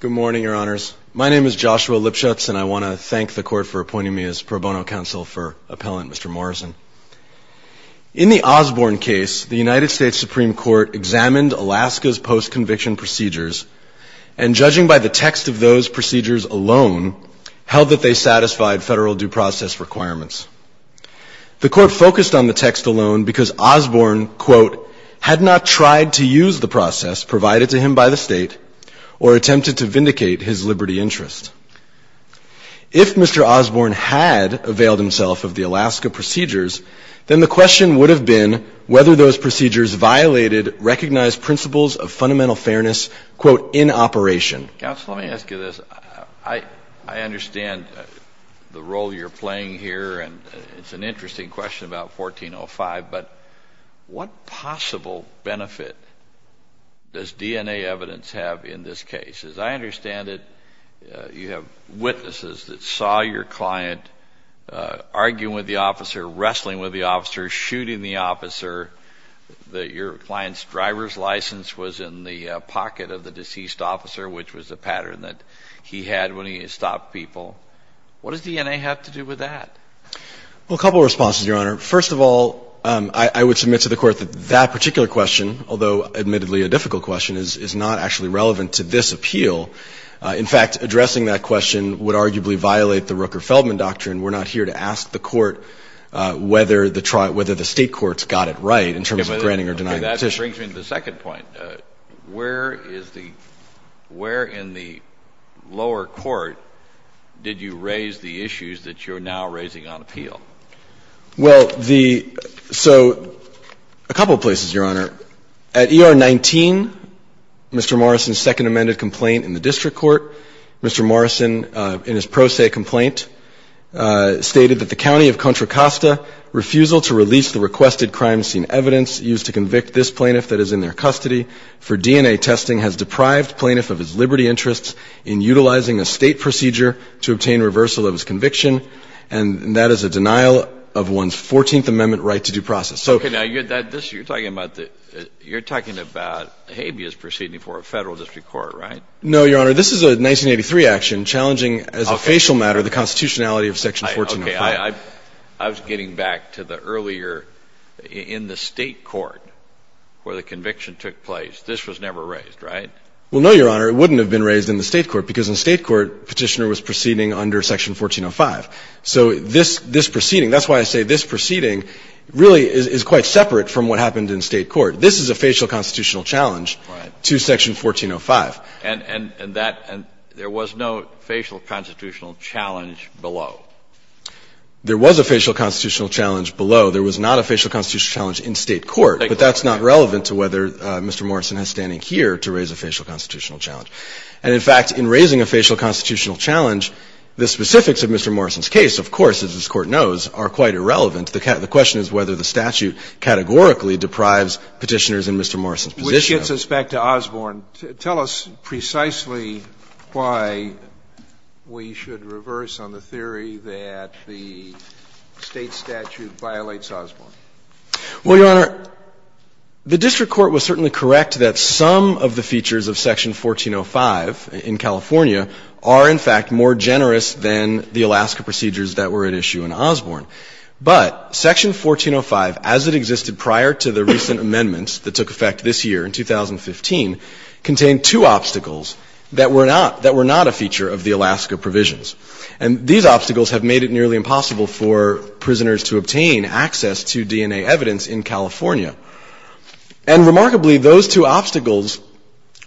Good morning, your honors. My name is Joshua Lipschutz and I want to thank the court for appointing me as pro bono counsel for appellant Mr. Morrison. In the Osborne case, the United States Supreme Court examined Alaska's post-conviction procedures and judging by the text of those procedures alone, held that they satisfied federal due process requirements. The court focused on the text alone because Osborne, quote, had not tried to use the process provided to him by the state or attempted to vindicate his liberty interest. If Mr. Osborne had availed himself of the Alaska procedures, then the question would have been whether those procedures violated recognized principles of fundamental fairness, quote, in operation. Counsel, let me ask you this. I understand the role you're playing here and it's an interesting question about 1405, but what possible benefit does DNA evidence have in this case? As I understand it, you have witnesses that saw your client arguing with the officer, wrestling with the officer, shooting the officer, that your client's driver's license was in the pocket of the deceased officer, which was a pattern that he had when he stopped people. What does DNA have to do with that? Well, a couple of responses, your honor. First of all, I would submit to the court that that particular question, although admittedly a difficult question, is not actually relevant to this appeal. In fact, addressing that question would arguably violate the Rooker-Feldman doctrine. We're not here to ask the court whether the state courts got it right in terms of granting or denying the petition. That brings me to the second point. Where is the – where in the lower court did you raise the issues that you're now raising on appeal? Well, the – so a couple of places, your honor. At ER 19, Mr. Morrison's second amended complaint in the district court. Mr. Morrison, in his pro se complaint, stated that the county of Contra Costa, refusal to release the requested crime scene evidence used to convict this plaintiff that is in their custody for DNA testing has deprived plaintiff of his liberty interests in utilizing a state procedure to obtain reversal of his conviction, and that is a denial of one's 14th Amendment right to due process. Okay. Now, you're talking about the – you're talking about habeas proceeding for a Federal District Court, right? No, your honor. This is a 1983 action challenging as a facial matter the constitutionality of Section 1405. Okay. I was getting back to the earlier – in the state court where the conviction took place. This was never raised, right? Well, no, your honor. It wouldn't have been raised in the state court because in state court, Petitioner was proceeding under Section 1405. So this proceeding – that's why I say this proceeding really is quite separate from what happened in state court. This is a facial constitutional challenge to Section 1405. And that – and there was no facial constitutional challenge below. There was a facial constitutional challenge below. There was not a facial constitutional challenge in state court. But that's not relevant to whether Mr. Morrison has standing here to raise a facial constitutional challenge. And, in fact, in raising a facial constitutional challenge, the specifics of Mr. Morrison's case, of course, as this Court knows, are quite irrelevant. The question is whether the statute categorically deprives Petitioners in Mr. Morrison's position of it. Sotomayor, with respect to Osborne, tell us precisely why we should reverse on the theory that the State statute violates Osborne. Well, your honor, the district court was certainly correct that some of the features of Section 1405 in California are, in fact, more generous than the Alaska procedures that were at issue in Osborne. But Section 1405, as it existed prior to the recent amendments that took effect this year in 2015, contained two obstacles that were not a feature of the Alaska provisions. And these obstacles have made it nearly impossible for prisoners to obtain access to DNA evidence in California. And, remarkably, those two obstacles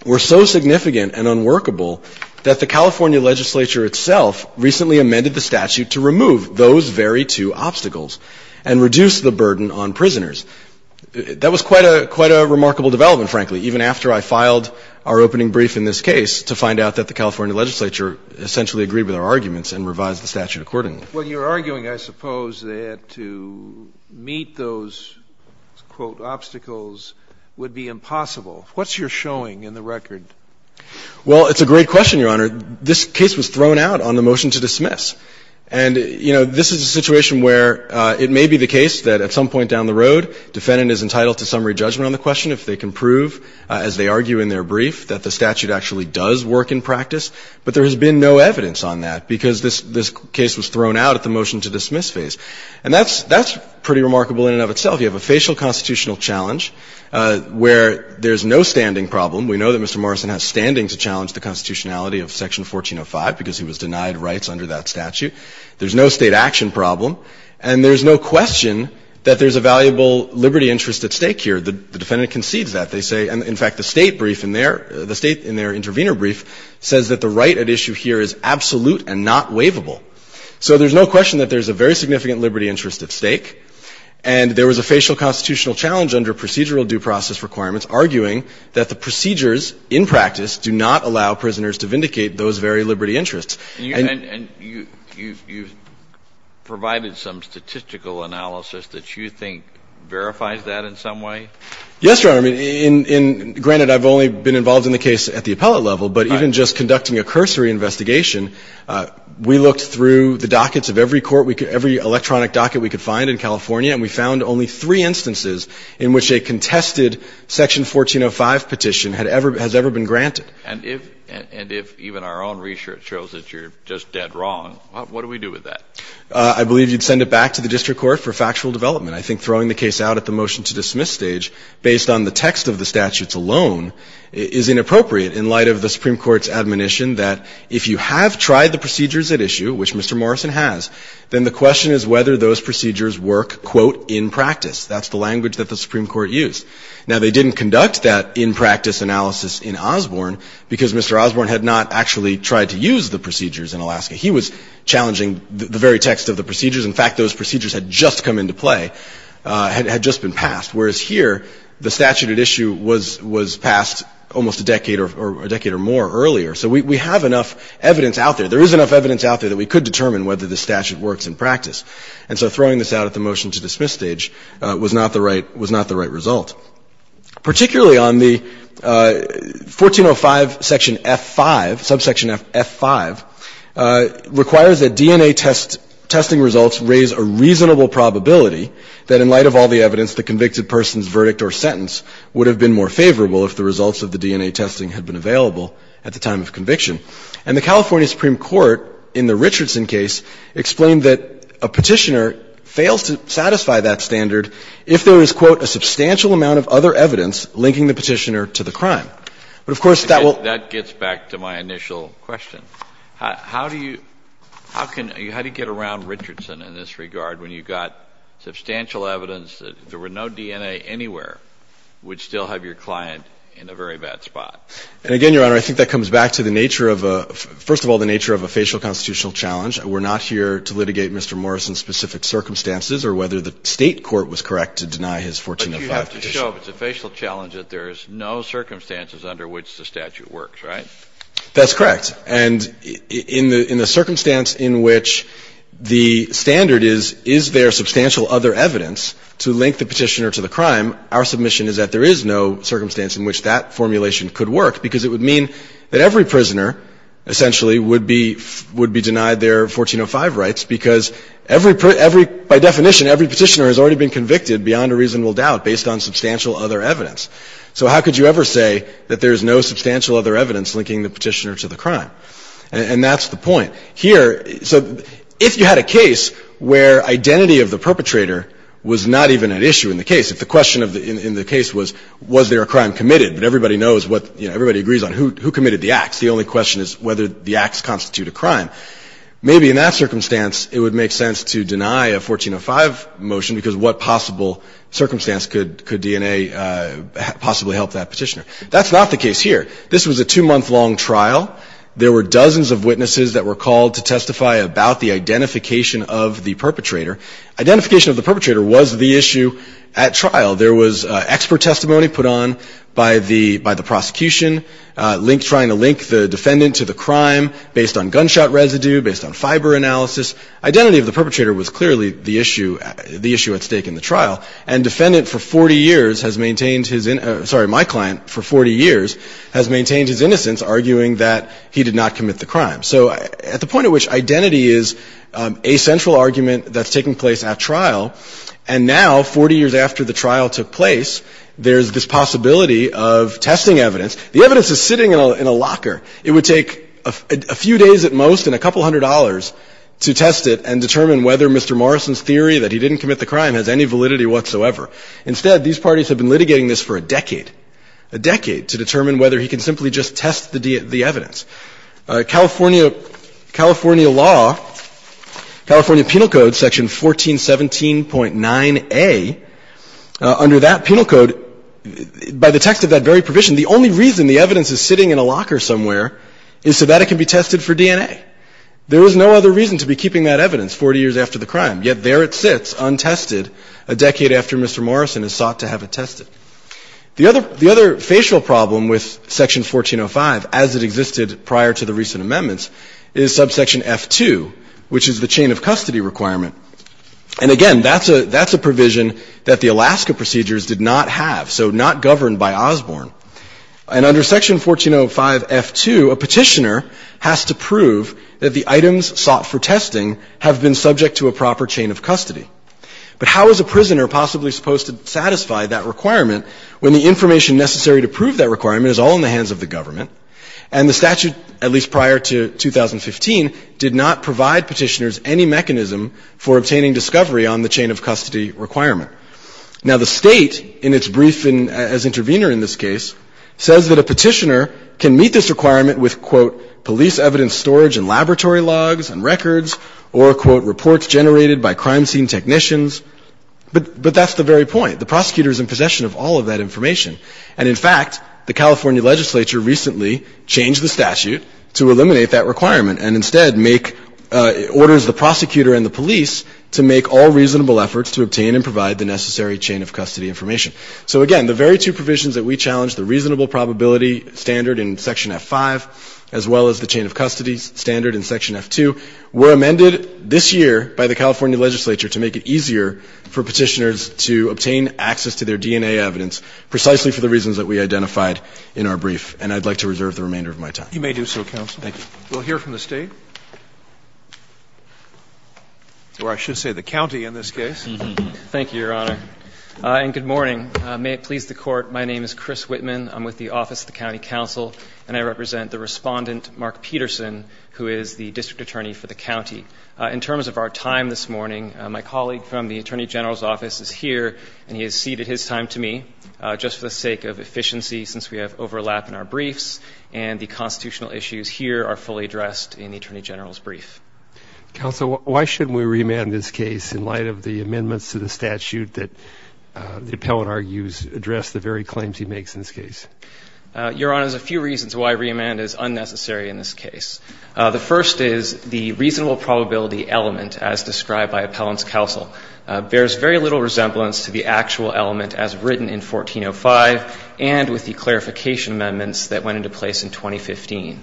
were so significant and unworkable that the California legislature itself recently amended the statute to remove those very two obstacles and reduce the burden on prisoners. That was quite a remarkable development, frankly, even after I filed our opening brief in this case to find out that the California legislature essentially agreed with our arguments and revised the statute accordingly. When you're arguing, I suppose, that to meet those, quote, obstacles would be impossible, what's your showing in the record? Well, it's a great question, Your Honor. This case was thrown out on the motion to dismiss. And, you know, this is a situation where it may be the case that at some point down the road defendant is entitled to summary judgment on the question if they can prove, as they argue in their brief, that the statute actually does work in practice. But there has been no evidence on that because this case was thrown out at the motion to dismiss phase. And that's pretty remarkable in and of itself. You have a facial constitutional challenge where there's no standing problem. We know that Mr. Morrison has standing to challenge the constitutionality of Section 1405 because he was denied rights under that statute. There's no State action problem. And there's no question that there's a valuable liberty interest at stake here. The defendant concedes that. They say, in fact, the State brief in their, the State in their intervener brief says that the right at issue here is absolute and not waivable. So there's no question that there's a very significant liberty interest at stake. And there was a facial constitutional challenge under procedural due process requirements arguing that the procedures in practice do not allow prisoners to vindicate those very liberty interests. And you've provided some statistical analysis that you think verifies that in some way? Yes, Your Honor. I mean, granted, I've only been involved in the case at the appellate level. Right. But even just conducting a cursory investigation, we looked through the dockets of every court, every electronic docket we could find in California, and we found only three instances in which a contested Section 1405 petition had ever, has ever been granted. And if, and if even our own research shows that you're just dead wrong, what do we do with that? I believe you'd send it back to the district court for factual development. I think throwing the case out at the motion-to-dismiss stage, based on the text of the statutes alone, is inappropriate in light of the Supreme Court's admonition that if you have tried the procedures at issue, which Mr. Morrison has, then the question is whether those procedures work, quote, in practice. That's the language that the Supreme Court used. Now, they didn't conduct that in-practice analysis in Osborne because Mr. Osborne had not actually tried to use the procedures in Alaska. He was challenging the very text of the procedures. In fact, those procedures had just come into play, had just been passed. Whereas here, the statute at issue was passed almost a decade or more earlier. So we have enough evidence out there. There is enough evidence out there that we could determine whether the statute works in practice. And so throwing this out at the motion-to-dismiss stage was not the right result. Particularly on the 1405 section F-5, subsection F-5, requires that DNA testing results raise a reasonable probability that in light of all the evidence, the convicted person's verdict or sentence would have been more favorable if the results of the DNA testing had been available at the time of conviction. And the California Supreme Court, in the Richardson case, explained that a petitioner fails to satisfy that standard if there is, quote, a substantial amount of other evidence linking the petitioner to the crime. But, of course, that will — That gets back to my initial question. How do you — how can — how do you get around Richardson in this regard when you got substantial evidence that if there were no DNA anywhere, would still have your client in a very bad spot? And again, Your Honor, I think that comes back to the nature of a — first of all, the nature of a facial constitutional challenge. We're not here to litigate Mr. Morrison's specific circumstances or whether the State court was correct to deny his 1405 petition. But you have to show, if it's a facial challenge, that there is no circumstances under which the statute works, right? That's correct. And in the — in the circumstance in which the standard is, is there substantial other evidence to link the petitioner to the crime, our submission is that there is no circumstance in which that formulation could work, because it would mean that every prisoner, essentially, would be — would be denied their 1405 rights because every — by definition, every petitioner has already been convicted beyond a reasonable doubt based on substantial other evidence. So how could you ever say that there's no substantial other evidence linking the petitioner to the crime? And that's the point. Here — so if you had a case where identity of the perpetrator was not even an issue in the case, if the question in the case was, was there a crime committed, but everybody knows what — you know, everybody agrees on who committed the acts, the only question is whether the acts constitute a crime, maybe in that circumstance it would make sense to deny a 1405 motion, because what possible circumstance could — could DNA possibly help that petitioner? That's not the case here. This was a two-month-long trial. There were dozens of witnesses that were called to testify about the identification of the perpetrator. Identification of the perpetrator was the issue at trial. There was expert testimony put on by the — by the prosecution, linked — trying to link the defendant to the crime based on gunshot residue, based on fiber analysis. Identity of the perpetrator was clearly the issue — the issue at stake in the trial. And defendant for 40 years has maintained his — sorry, my client for 40 years has maintained his innocence, arguing that he did not commit the crime. So at the point at which identity is a central argument that's taking place at trial, there's this possibility of testing evidence. The evidence is sitting in a locker. It would take a few days at most and a couple hundred dollars to test it and determine whether Mr. Morrison's theory that he didn't commit the crime has any validity whatsoever. Instead, these parties have been litigating this for a decade, a decade, to determine whether he can simply just test the evidence. Under that penal code, by the text of that very provision, the only reason the evidence is sitting in a locker somewhere is so that it can be tested for DNA. There is no other reason to be keeping that evidence 40 years after the crime. Yet there it sits, untested, a decade after Mr. Morrison has sought to have it tested. The other — the other facial problem with Section 1405, as it existed prior to the recent amendments, is subsection F2, which is the chain of custody requirement. And again, that's a — that's a provision that the Alaska procedures did not have, so not governed by Osborne. And under Section 1405F2, a petitioner has to prove that the items sought for testing have been subject to a proper chain of custody. But how is a prisoner possibly supposed to satisfy that requirement when the information necessary to prove that requirement is all in the hands of the government? And the statute, at least prior to 2015, did not provide petitioners any mechanism for obtaining discovery on the chain of custody requirement. Now, the State, in its brief as intervener in this case, says that a petitioner can meet this requirement with, quote, police evidence storage and laboratory logs and records, or, quote, reports generated by crime scene technicians. But — but that's the very point. The prosecutor is in possession of all of that information. And in fact, the California legislature recently changed the statute to eliminate that requirement and instead make — orders the prosecutor and the police to make all reasonable efforts to obtain and provide the necessary chain of custody information. So again, the very two provisions that we challenged, the reasonable probability standard in Section F5, as well as the chain of custody standard in Section F2, were amended this year by the California legislature to make it easier for petitioners to obtain access to their DNA evidence precisely for the reasons that we identified in our brief. And I'd like to reserve the remainder of my time. You may do so, counsel. Thank you. We'll hear from the State. Or I should say the county in this case. Thank you, Your Honor. And good morning. May it please the Court, my name is Chris Whitman. I'm with the Office of the County Counsel, and I represent the Respondent, Mark Peterson, who is the district attorney for the county. In terms of our time this morning, my colleague from the Attorney General's office is here, and he has ceded his time to me just for the sake of efficiency since we have overlap in our briefs and the constitutional issues here are fully addressed in the Attorney General's brief. Counsel, why shouldn't we reamend this case in light of the amendments to the statute that the appellant argues address the very claims he makes in this case? Your Honor, there's a few reasons why reamend is unnecessary in this case. The first is the reasonable probability element, as described by appellant's counsel, bears very little resemblance to the actual element as written in 1405 and with the clarification amendments that went into place in 2015.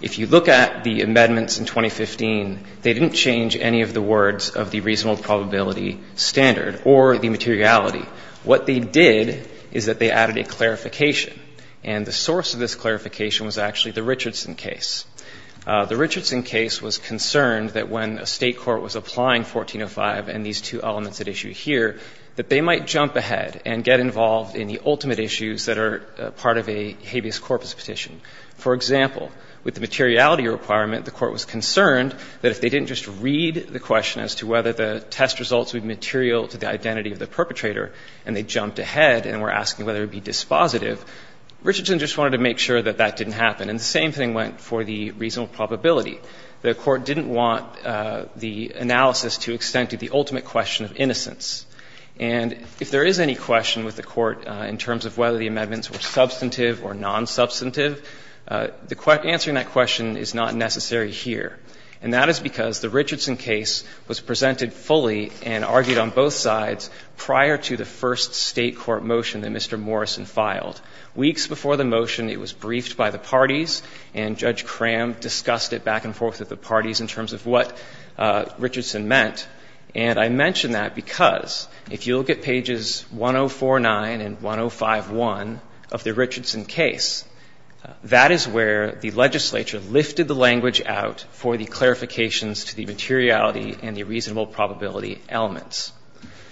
If you look at the amendments in 2015, they didn't change any of the words of the reasonable probability standard or the materiality. What they did is that they added a clarification, and the source of this clarification was actually the Richardson case. The Richardson case was concerned that when a State court was applying 1405 and these two elements at issue here, that they might jump ahead and get involved in the ultimate issues that are part of a habeas corpus petition. For example, with the materiality requirement, the Court was concerned that if they didn't just read the question as to whether the test results would material to the identity of the perpetrator and they jumped ahead and were asking whether it would be dispositive, Richardson just wanted to make sure that that didn't happen. And the same thing went for the reasonable probability. The Court didn't want the analysis to extend to the ultimate question of innocence. And if there is any question with the Court in terms of whether the amendments were substantive or non-substantive, answering that question is not necessary here, and that is because the Richardson case was presented fully and argued on both sides prior to the first State court motion that Mr. Morrison filed. Weeks before the motion, it was briefed by the parties, and Judge Cram discussed it back and forth with the parties in terms of what Richardson meant. And I mention that because if you look at pages 1049 and 1051 of the Richardson case, that is where the legislature lifted the language out for the clarifications to the materiality and the reasonable probability elements.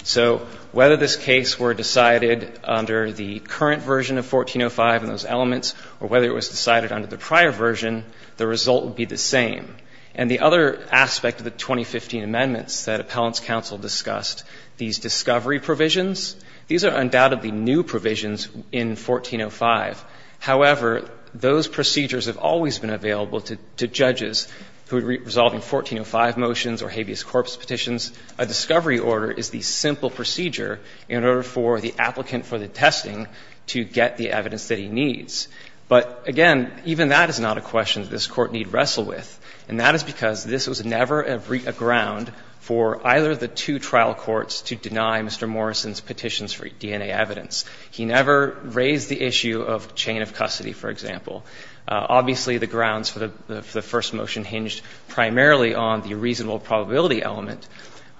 So whether this case were decided under the current version of 1405 and those elements or whether it was decided under the prior version, the result would be the same. And the other aspect of the 2015 amendments that Appellant's counsel discussed, these discovery provisions, these are undoubtedly new provisions in 1405. However, those procedures have always been available to judges who would resolve in 1405 motions or habeas corpus petitions. A discovery order is the simple procedure in order for the applicant for the testing to get the evidence that he needs. But again, even that is not a question that this Court need wrestle with. And that is because this was never a ground for either of the two trial courts to deny Mr. Morrison's petitions for DNA evidence. He never raised the issue of chain of custody, for example. Obviously, the grounds for the first motion hinged primarily on the reasonable probability element.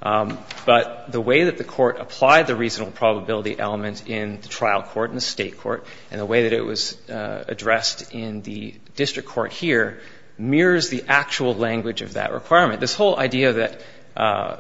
But the way that the Court applied the reasonable probability element in the trial court and the State court and the way that it was addressed in the district court here mirrors the actual language of that requirement. This whole idea that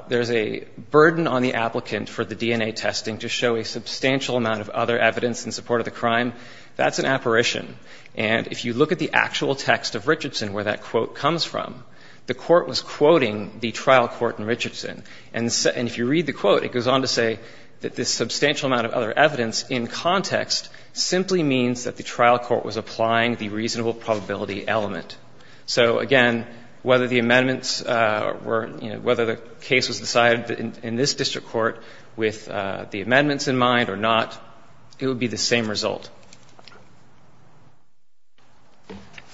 there's a burden on the applicant for the DNA testing to show a substantial amount of other evidence in support of the crime, that's an apparition. And if you look at the actual text of Richardson where that quote comes from, the Court was quoting the trial court in Richardson. And if you read the quote, it goes on to say that this substantial amount of other evidence in context simply means that the trial court was applying the reasonable probability element. So again, whether the amendments were, you know, whether the case was decided in this district court with the amendments in mind or not, it would be the same result.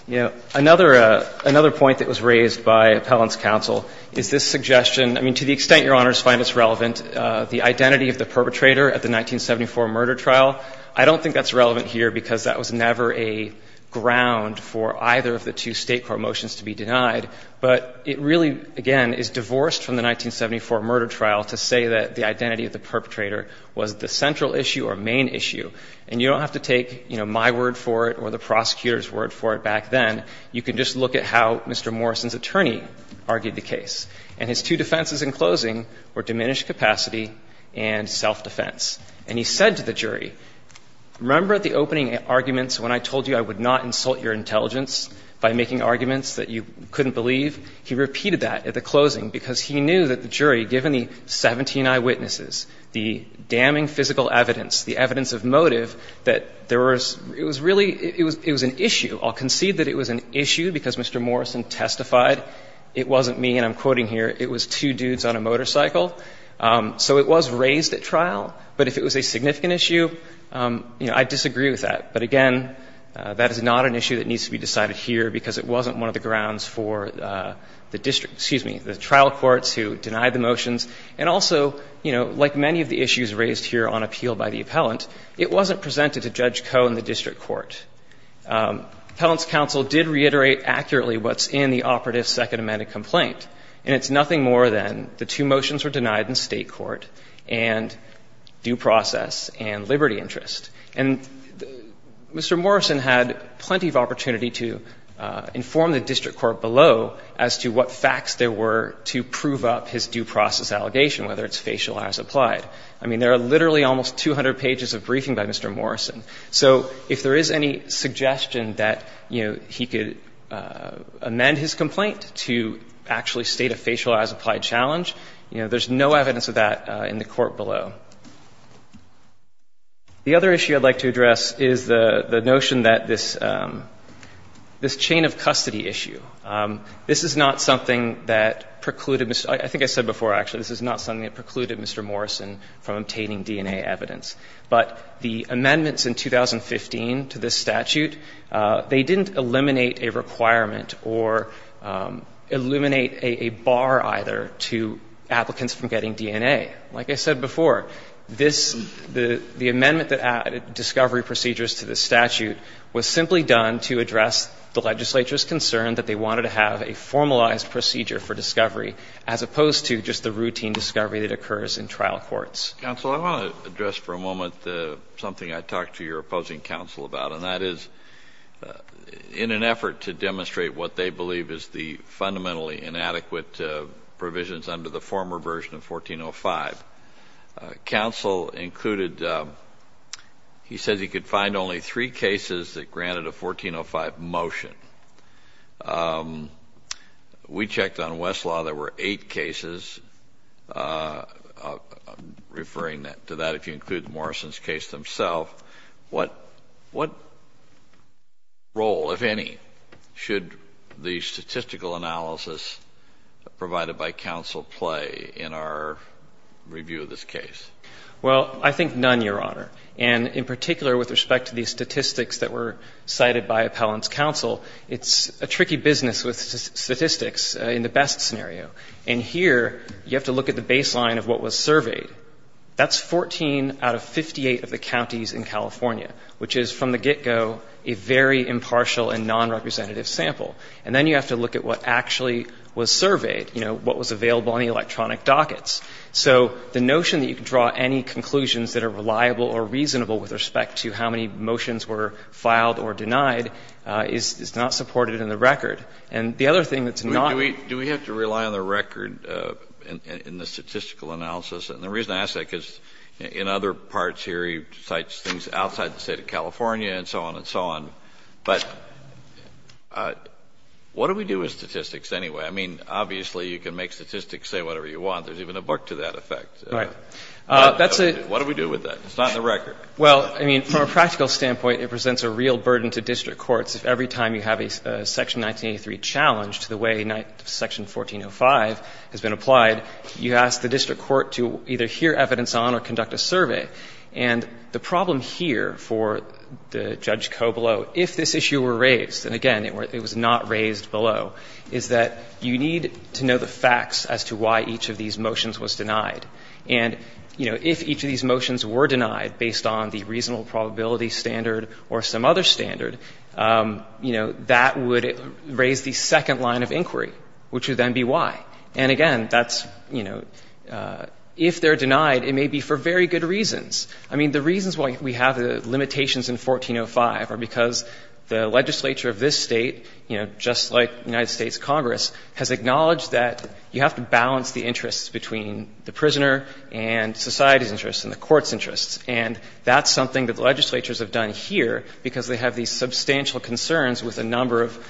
You know, another point that was raised by Appellant's counsel is this suggestion – I mean, to the extent Your Honors find this relevant, the identity of the perpetrator at the 1974 murder trial, I don't think that's relevant here because that was never a ground for either of the two State court motions to be denied. But it really, again, is divorced from the 1974 murder trial to say that the identity of the perpetrator was the central issue or main issue. And you don't have to take, you know, my word for it or the prosecutor's word for it back then. You can just look at how Mr. Morrison's attorney argued the case. And his two defenses in closing were diminished capacity and self-defense. And he said to the jury, remember at the opening arguments when I told you I would not insult your intelligence by making arguments that you couldn't believe? He repeated that at the closing because he knew that the jury, given the 17 eyewitnesses, the damning physical evidence, the evidence of motive, that there was – it was really – it was an issue. I'll concede that it was an issue because Mr. Morrison testified it wasn't me, and I'm quoting here, it was two dudes on a motorcycle. So it was raised at trial. But if it was a significant issue, you know, I disagree with that. But again, that is not an issue that needs to be decided here because it wasn't one of the grounds for the district – excuse me, the trial courts who denied the motions. And also, you know, like many of the issues raised here on appeal by the appellant, it wasn't presented to Judge Koh in the district court. Appellant's counsel did reiterate accurately what's in the operative Second Amendment complaint, and it's nothing more than the two motions were denied in state court and due process and liberty interest. And Mr. Morrison had plenty of opportunity to inform the district court below as to what facts there were to prove up his due process allegation, whether it's facial or as applied. I mean, there are literally almost 200 pages of briefing by Mr. Morrison. So if there is any suggestion that, you know, he could amend his complaint to actually state a facial as applied challenge, you know, there's no evidence of that in the court below. The other issue I'd like to address is the notion that this chain of custody issue, this is not something that precluded – I think I said before, actually, this is not something that precluded Mr. Morrison from obtaining DNA evidence. But the amendments in 2015 to this statute, they didn't eliminate a requirement or eliminate a bar either to applicants from getting DNA. Like I said before, this – the amendment that added discovery procedures to the statute was simply done to address the legislature's concern that they wanted to have a formalized procedure for discovery as opposed to just the routine discovery that occurs in trial courts. Counsel, I want to address for a moment something I talked to your opposing counsel about, and that is in an effort to demonstrate what they believe is the fundamentally inadequate provisions under the former version of 1405, counsel included – he said he could find only three cases that granted a 1405 motion. We checked on Westlaw. There were eight cases. Referring to that, if you include Morrison's case themself, what role, if any, should the statistical analysis provided by counsel play in our review of this case? Well, I think none, Your Honor. And in particular with respect to the statistics that were cited by appellant's counsel, it's a tricky business with statistics in the best scenario. And here you have to look at the baseline of what was surveyed. That's 14 out of 58 of the counties in California, which is from the get-go a very impartial and nonrepresentative sample. And then you have to look at what actually was surveyed, you know, what was available on the electronic dockets. So the notion that you can draw any conclusions that are reliable or reasonable with respect to how many motions were filed or denied is not supported in the record. And the other thing that's not – Do we have to rely on the record in the statistical analysis? And the reason I ask that is because in other parts here he cites things outside the State of California and so on and so on. But what do we do with statistics anyway? I mean, obviously you can make statistics say whatever you want. There's even a book to that effect. Right. That's a – What do we do with that? It's not in the record. Well, I mean, from a practical standpoint, it presents a real burden to district courts if every time you have a Section 1983 challenge to the way Section 1405 has been applied, you ask the district court to either hear evidence on or conduct a survey. And the problem here for Judge Cobello, if this issue were raised, and again, it was not raised below, is that you need to know the facts as to why each of these motions was denied. And, you know, if each of these motions were denied based on the reasonable probability standard or some other standard, you know, that would raise the second line of inquiry, which would then be why. And again, that's, you know, if they're denied, it may be for very good reasons. I mean, the reasons why we have the limitations in 1405 are because the legislature of this State, you know, just like the United States Congress, has acknowledged that you have to balance the interests between the prisoner and society's interests and the court's interests. And that's something that the legislatures have done here because they have these substantial concerns with a number of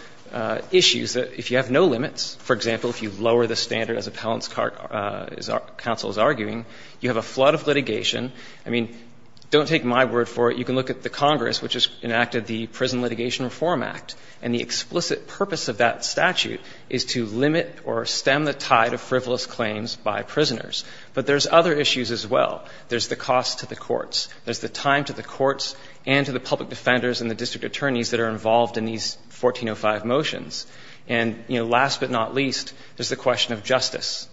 issues that if you have no limits, for example, if you lower the standard, as Appellant's Court is arguing, you have a flood of litigation. I mean, don't take my word for it. You can look at the Congress, which has enacted the Prison Litigation Reform Act, and the explicit purpose of that statute is to limit or stem the tide of frivolous claims by prisoners. But there's other issues as well. There's the cost to the courts. There's the time to the courts and to the public defenders and the district attorneys that are involved in these 1405 motions. And, you know, last but not least, there's the question of justice.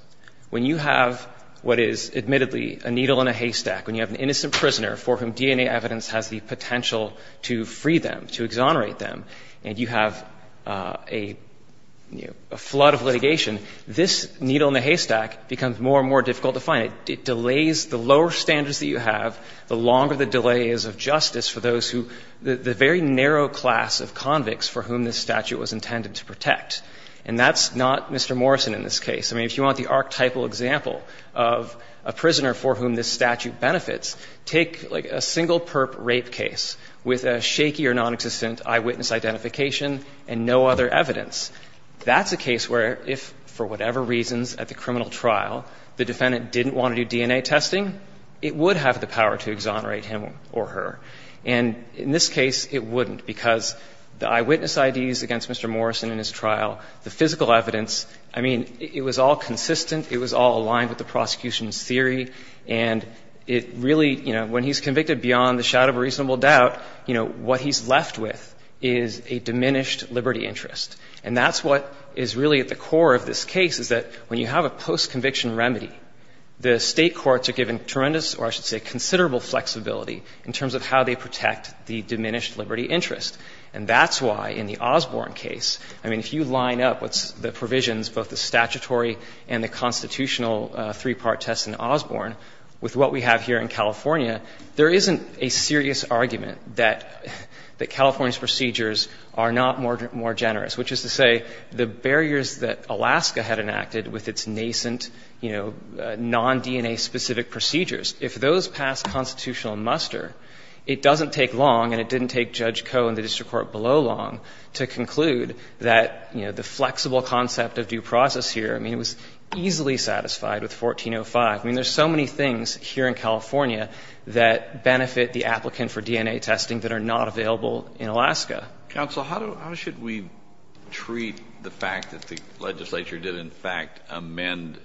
When you have what is admittedly a needle in a haystack, when you have an innocent prisoner for whom DNA evidence has the potential to free them, to exonerate them, and you have a flood of litigation, this needle in the haystack becomes more and more difficult to find. It delays the lower standards that you have, the longer the delay is of justice for those who the very narrow class of convicts for whom this statute was intended to protect. And that's not Mr. Morrison in this case. I mean, if you want the archetypal example of a prisoner for whom this statute benefits, take, like, a single perp rape case with a shaky or nonexistent eyewitness identification and no other evidence. That's a case where if, for whatever reasons at the criminal trial, the defendant didn't want to do DNA testing, it would have the power to exonerate him or her. And in this case, it wouldn't, because the eyewitness IDs against Mr. Morrison in his trial, the physical evidence, I mean, it was all consistent, it was all aligned with the prosecution's theory, and it really, you know, when he's convicted beyond the shadow of a reasonable doubt, you know, what he's left with is a diminished liberty interest. And that's what is really at the core of this case, is that when you have a post-conviction remedy, the State courts are given tremendous, or I should say considerable flexibility in terms of how they protect the diminished liberty interest. And that's why in the Osborne case, I mean, if you line up what's the provisions, both the statutory and the constitutional three-part test in Osborne, with what we have here in California, there isn't a serious argument that California's procedures are not more generous, which is to say the barriers that Alaska had enacted with its nascent, you know, non-DNA-specific procedures, if those pass constitutional muster, it doesn't take long, and it didn't take Judge Koh and the district court below long, to conclude that, you know, the flexible concept of due process here, I mean, it was easily satisfied with 1405. I mean, there's so many things here in California that benefit the applicant for DNA testing that are not available in Alaska. Kennedy. Counsel, how should we treat the fact that the legislature did in fact amend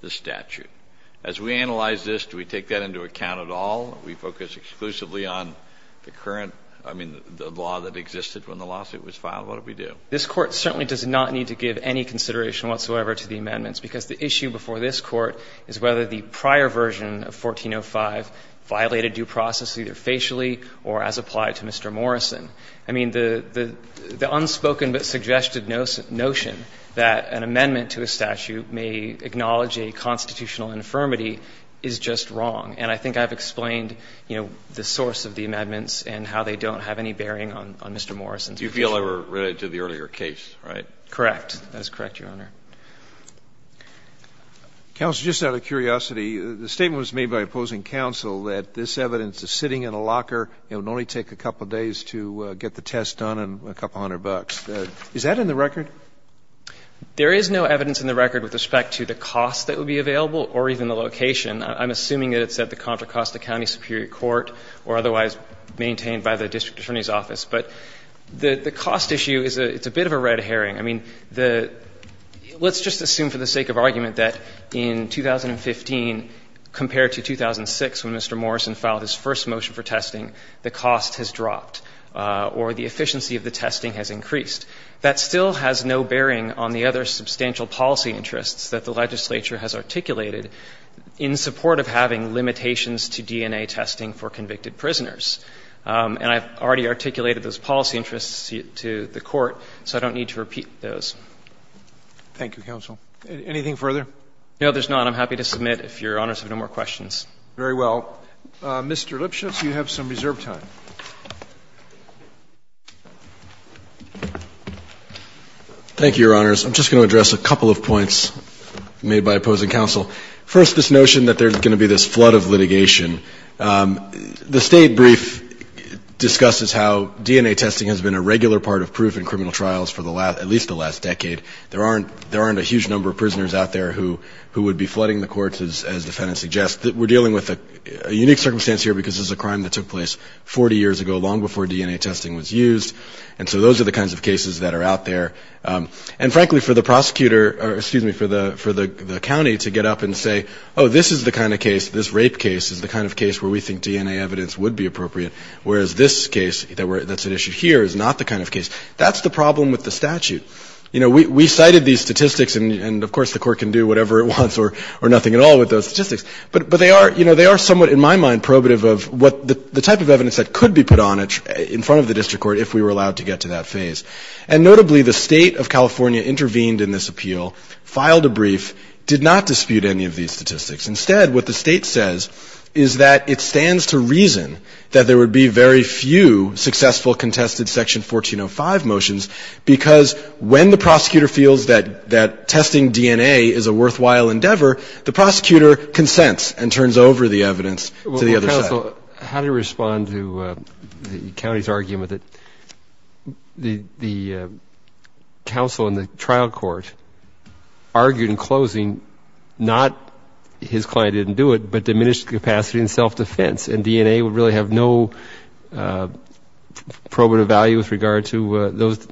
the statute? As we analyze this, do we take that into account at all? Do we focus exclusively on the current, I mean, the law that existed when the lawsuit was filed? What do we do? This Court certainly does not need to give any consideration whatsoever to the amendments, because the issue before this Court is whether the prior version of 1405 violated due process either facially or as applied to Mr. Morrison. I mean, the unspoken but suggested notion that an amendment to a statute may acknowledge a constitutional infirmity is just wrong. And I think I've explained, you know, the source of the amendments and how they don't have any bearing on Mr. Morrison's position. You feel they were related to the earlier case, right? Correct. That is correct, Your Honor. Counsel, just out of curiosity, the statement was made by opposing counsel that this evidence is sitting in a locker. It would only take a couple days to get the test done and a couple hundred bucks. Is that in the record? There is no evidence in the record with respect to the cost that would be available or even the location. I'm assuming that it's at the Contra Costa County Superior Court or otherwise maintained by the district attorney's office. But the cost issue is a bit of a red herring. I mean, let's just assume for the sake of argument that in 2015, compared to 2006 when Mr. Morrison filed his first motion for testing, the cost has dropped or the efficiency of the testing has increased. That still has no bearing on the other substantial policy interests that the legislature has articulated in support of having limitations to DNA testing for convicted prisoners. And I've already articulated those policy interests to the Court, so I don't need to repeat those. Thank you, counsel. Anything further? No, there's none. I'm happy to submit if Your Honors have no more questions. Very well. Mr. Lipschitz, you have some reserved time. Thank you, Your Honors. I'm just going to address a couple of points made by opposing counsel. First, this notion that there's going to be this flood of litigation. The State Brief discusses how DNA testing has been a regular part of proof in criminal trials for at least the last decade. There aren't a huge number of prisoners out there who would be flooding the courts, as the defendant suggests. We're dealing with a unique circumstance here because this is a crime that took place 40 years ago, long before DNA testing was used. And so those are the kinds of cases that are out there. And, frankly, for the prosecutor or, excuse me, for the county to get up and say, oh, this is the kind of case, this rape case is the kind of case where we think DNA evidence would be appropriate, whereas this case that's at issue here is not the kind of case. That's the problem with the statute. You know, we cited these statistics, and, of course, the court can do whatever it wants or nothing at all with those statistics. But they are, you know, they are somewhat, in my mind, probative of what the type of evidence that could be put on it in front of the district court if we were allowed to get to that phase. And, notably, the State of California intervened in this appeal, filed a brief, did not dispute any of these statistics. Instead, what the State says is that it stands to reason that there would be very few successful contested Section 1405 motions, because when the prosecutor feels that testing DNA is a worthwhile endeavor, the prosecutor consents to it and turns over the evidence to the other side. Well, counsel, how do you respond to the county's argument that the counsel in the trial court argued in closing not his client didn't do it, but diminished capacity in self-defense, and DNA would really have no probative value with regard to those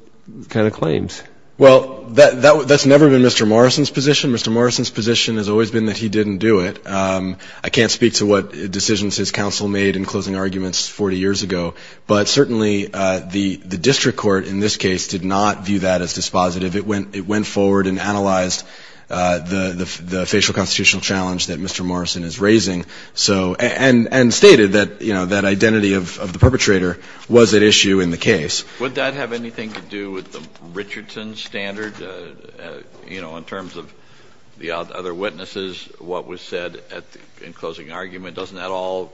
kind of claims? Well, that's never been Mr. Morrison's position. Mr. Morrison's position has always been that he didn't do it. I can't speak to what decisions his counsel made in closing arguments 40 years ago, but certainly the district court in this case did not view that as dispositive. It went forward and analyzed the facial constitutional challenge that Mr. Morrison is raising, so, and stated that, you know, that identity of the perpetrator was at issue in the case. Would that have anything to do with the Richardson standard, you know, in terms of the other witnesses, what was said in closing argument? Doesn't that all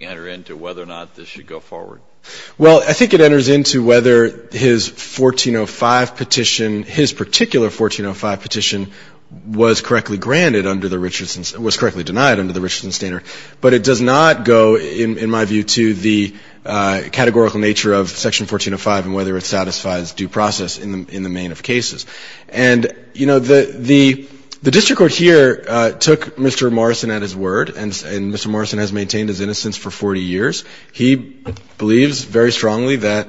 enter into whether or not this should go forward? Well, I think it enters into whether his 1405 petition, his particular 1405 petition was correctly granted under the Richardson's, was correctly denied under the Richardson standard, but it does not go, in my view, to the categorical nature of Section 1405 and whether it satisfies due process in the main of cases. And, you know, the district court here took Mr. Morrison at his word, and Mr. Morrison has maintained his innocence for 40 years. He believes very strongly that,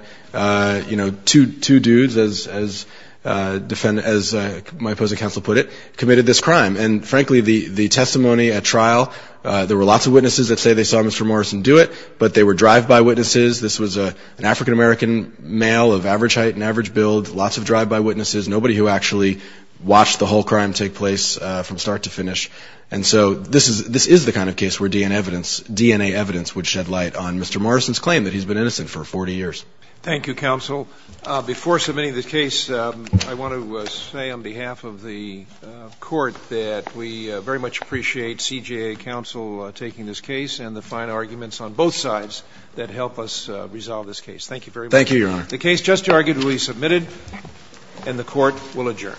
you know, two dudes, as my opposing counsel put it, committed this crime. And, frankly, the testimony at trial, there were lots of witnesses that say they saw Mr. Morrison do it, but they were drive-by witnesses. This was an African-American male of average height and average build, lots of people who actually watched the whole crime take place from start to finish. And so this is the kind of case where DNA evidence would shed light on Mr. Morrison's claim that he's been innocent for 40 years. Thank you, counsel. Before submitting the case, I want to say on behalf of the Court that we very much appreciate CJA counsel taking this case and the fine arguments on both sides that help us resolve this case. Thank you very much. Thank you, Your Honor. The case just argued will be submitted, and the Court will adjourn.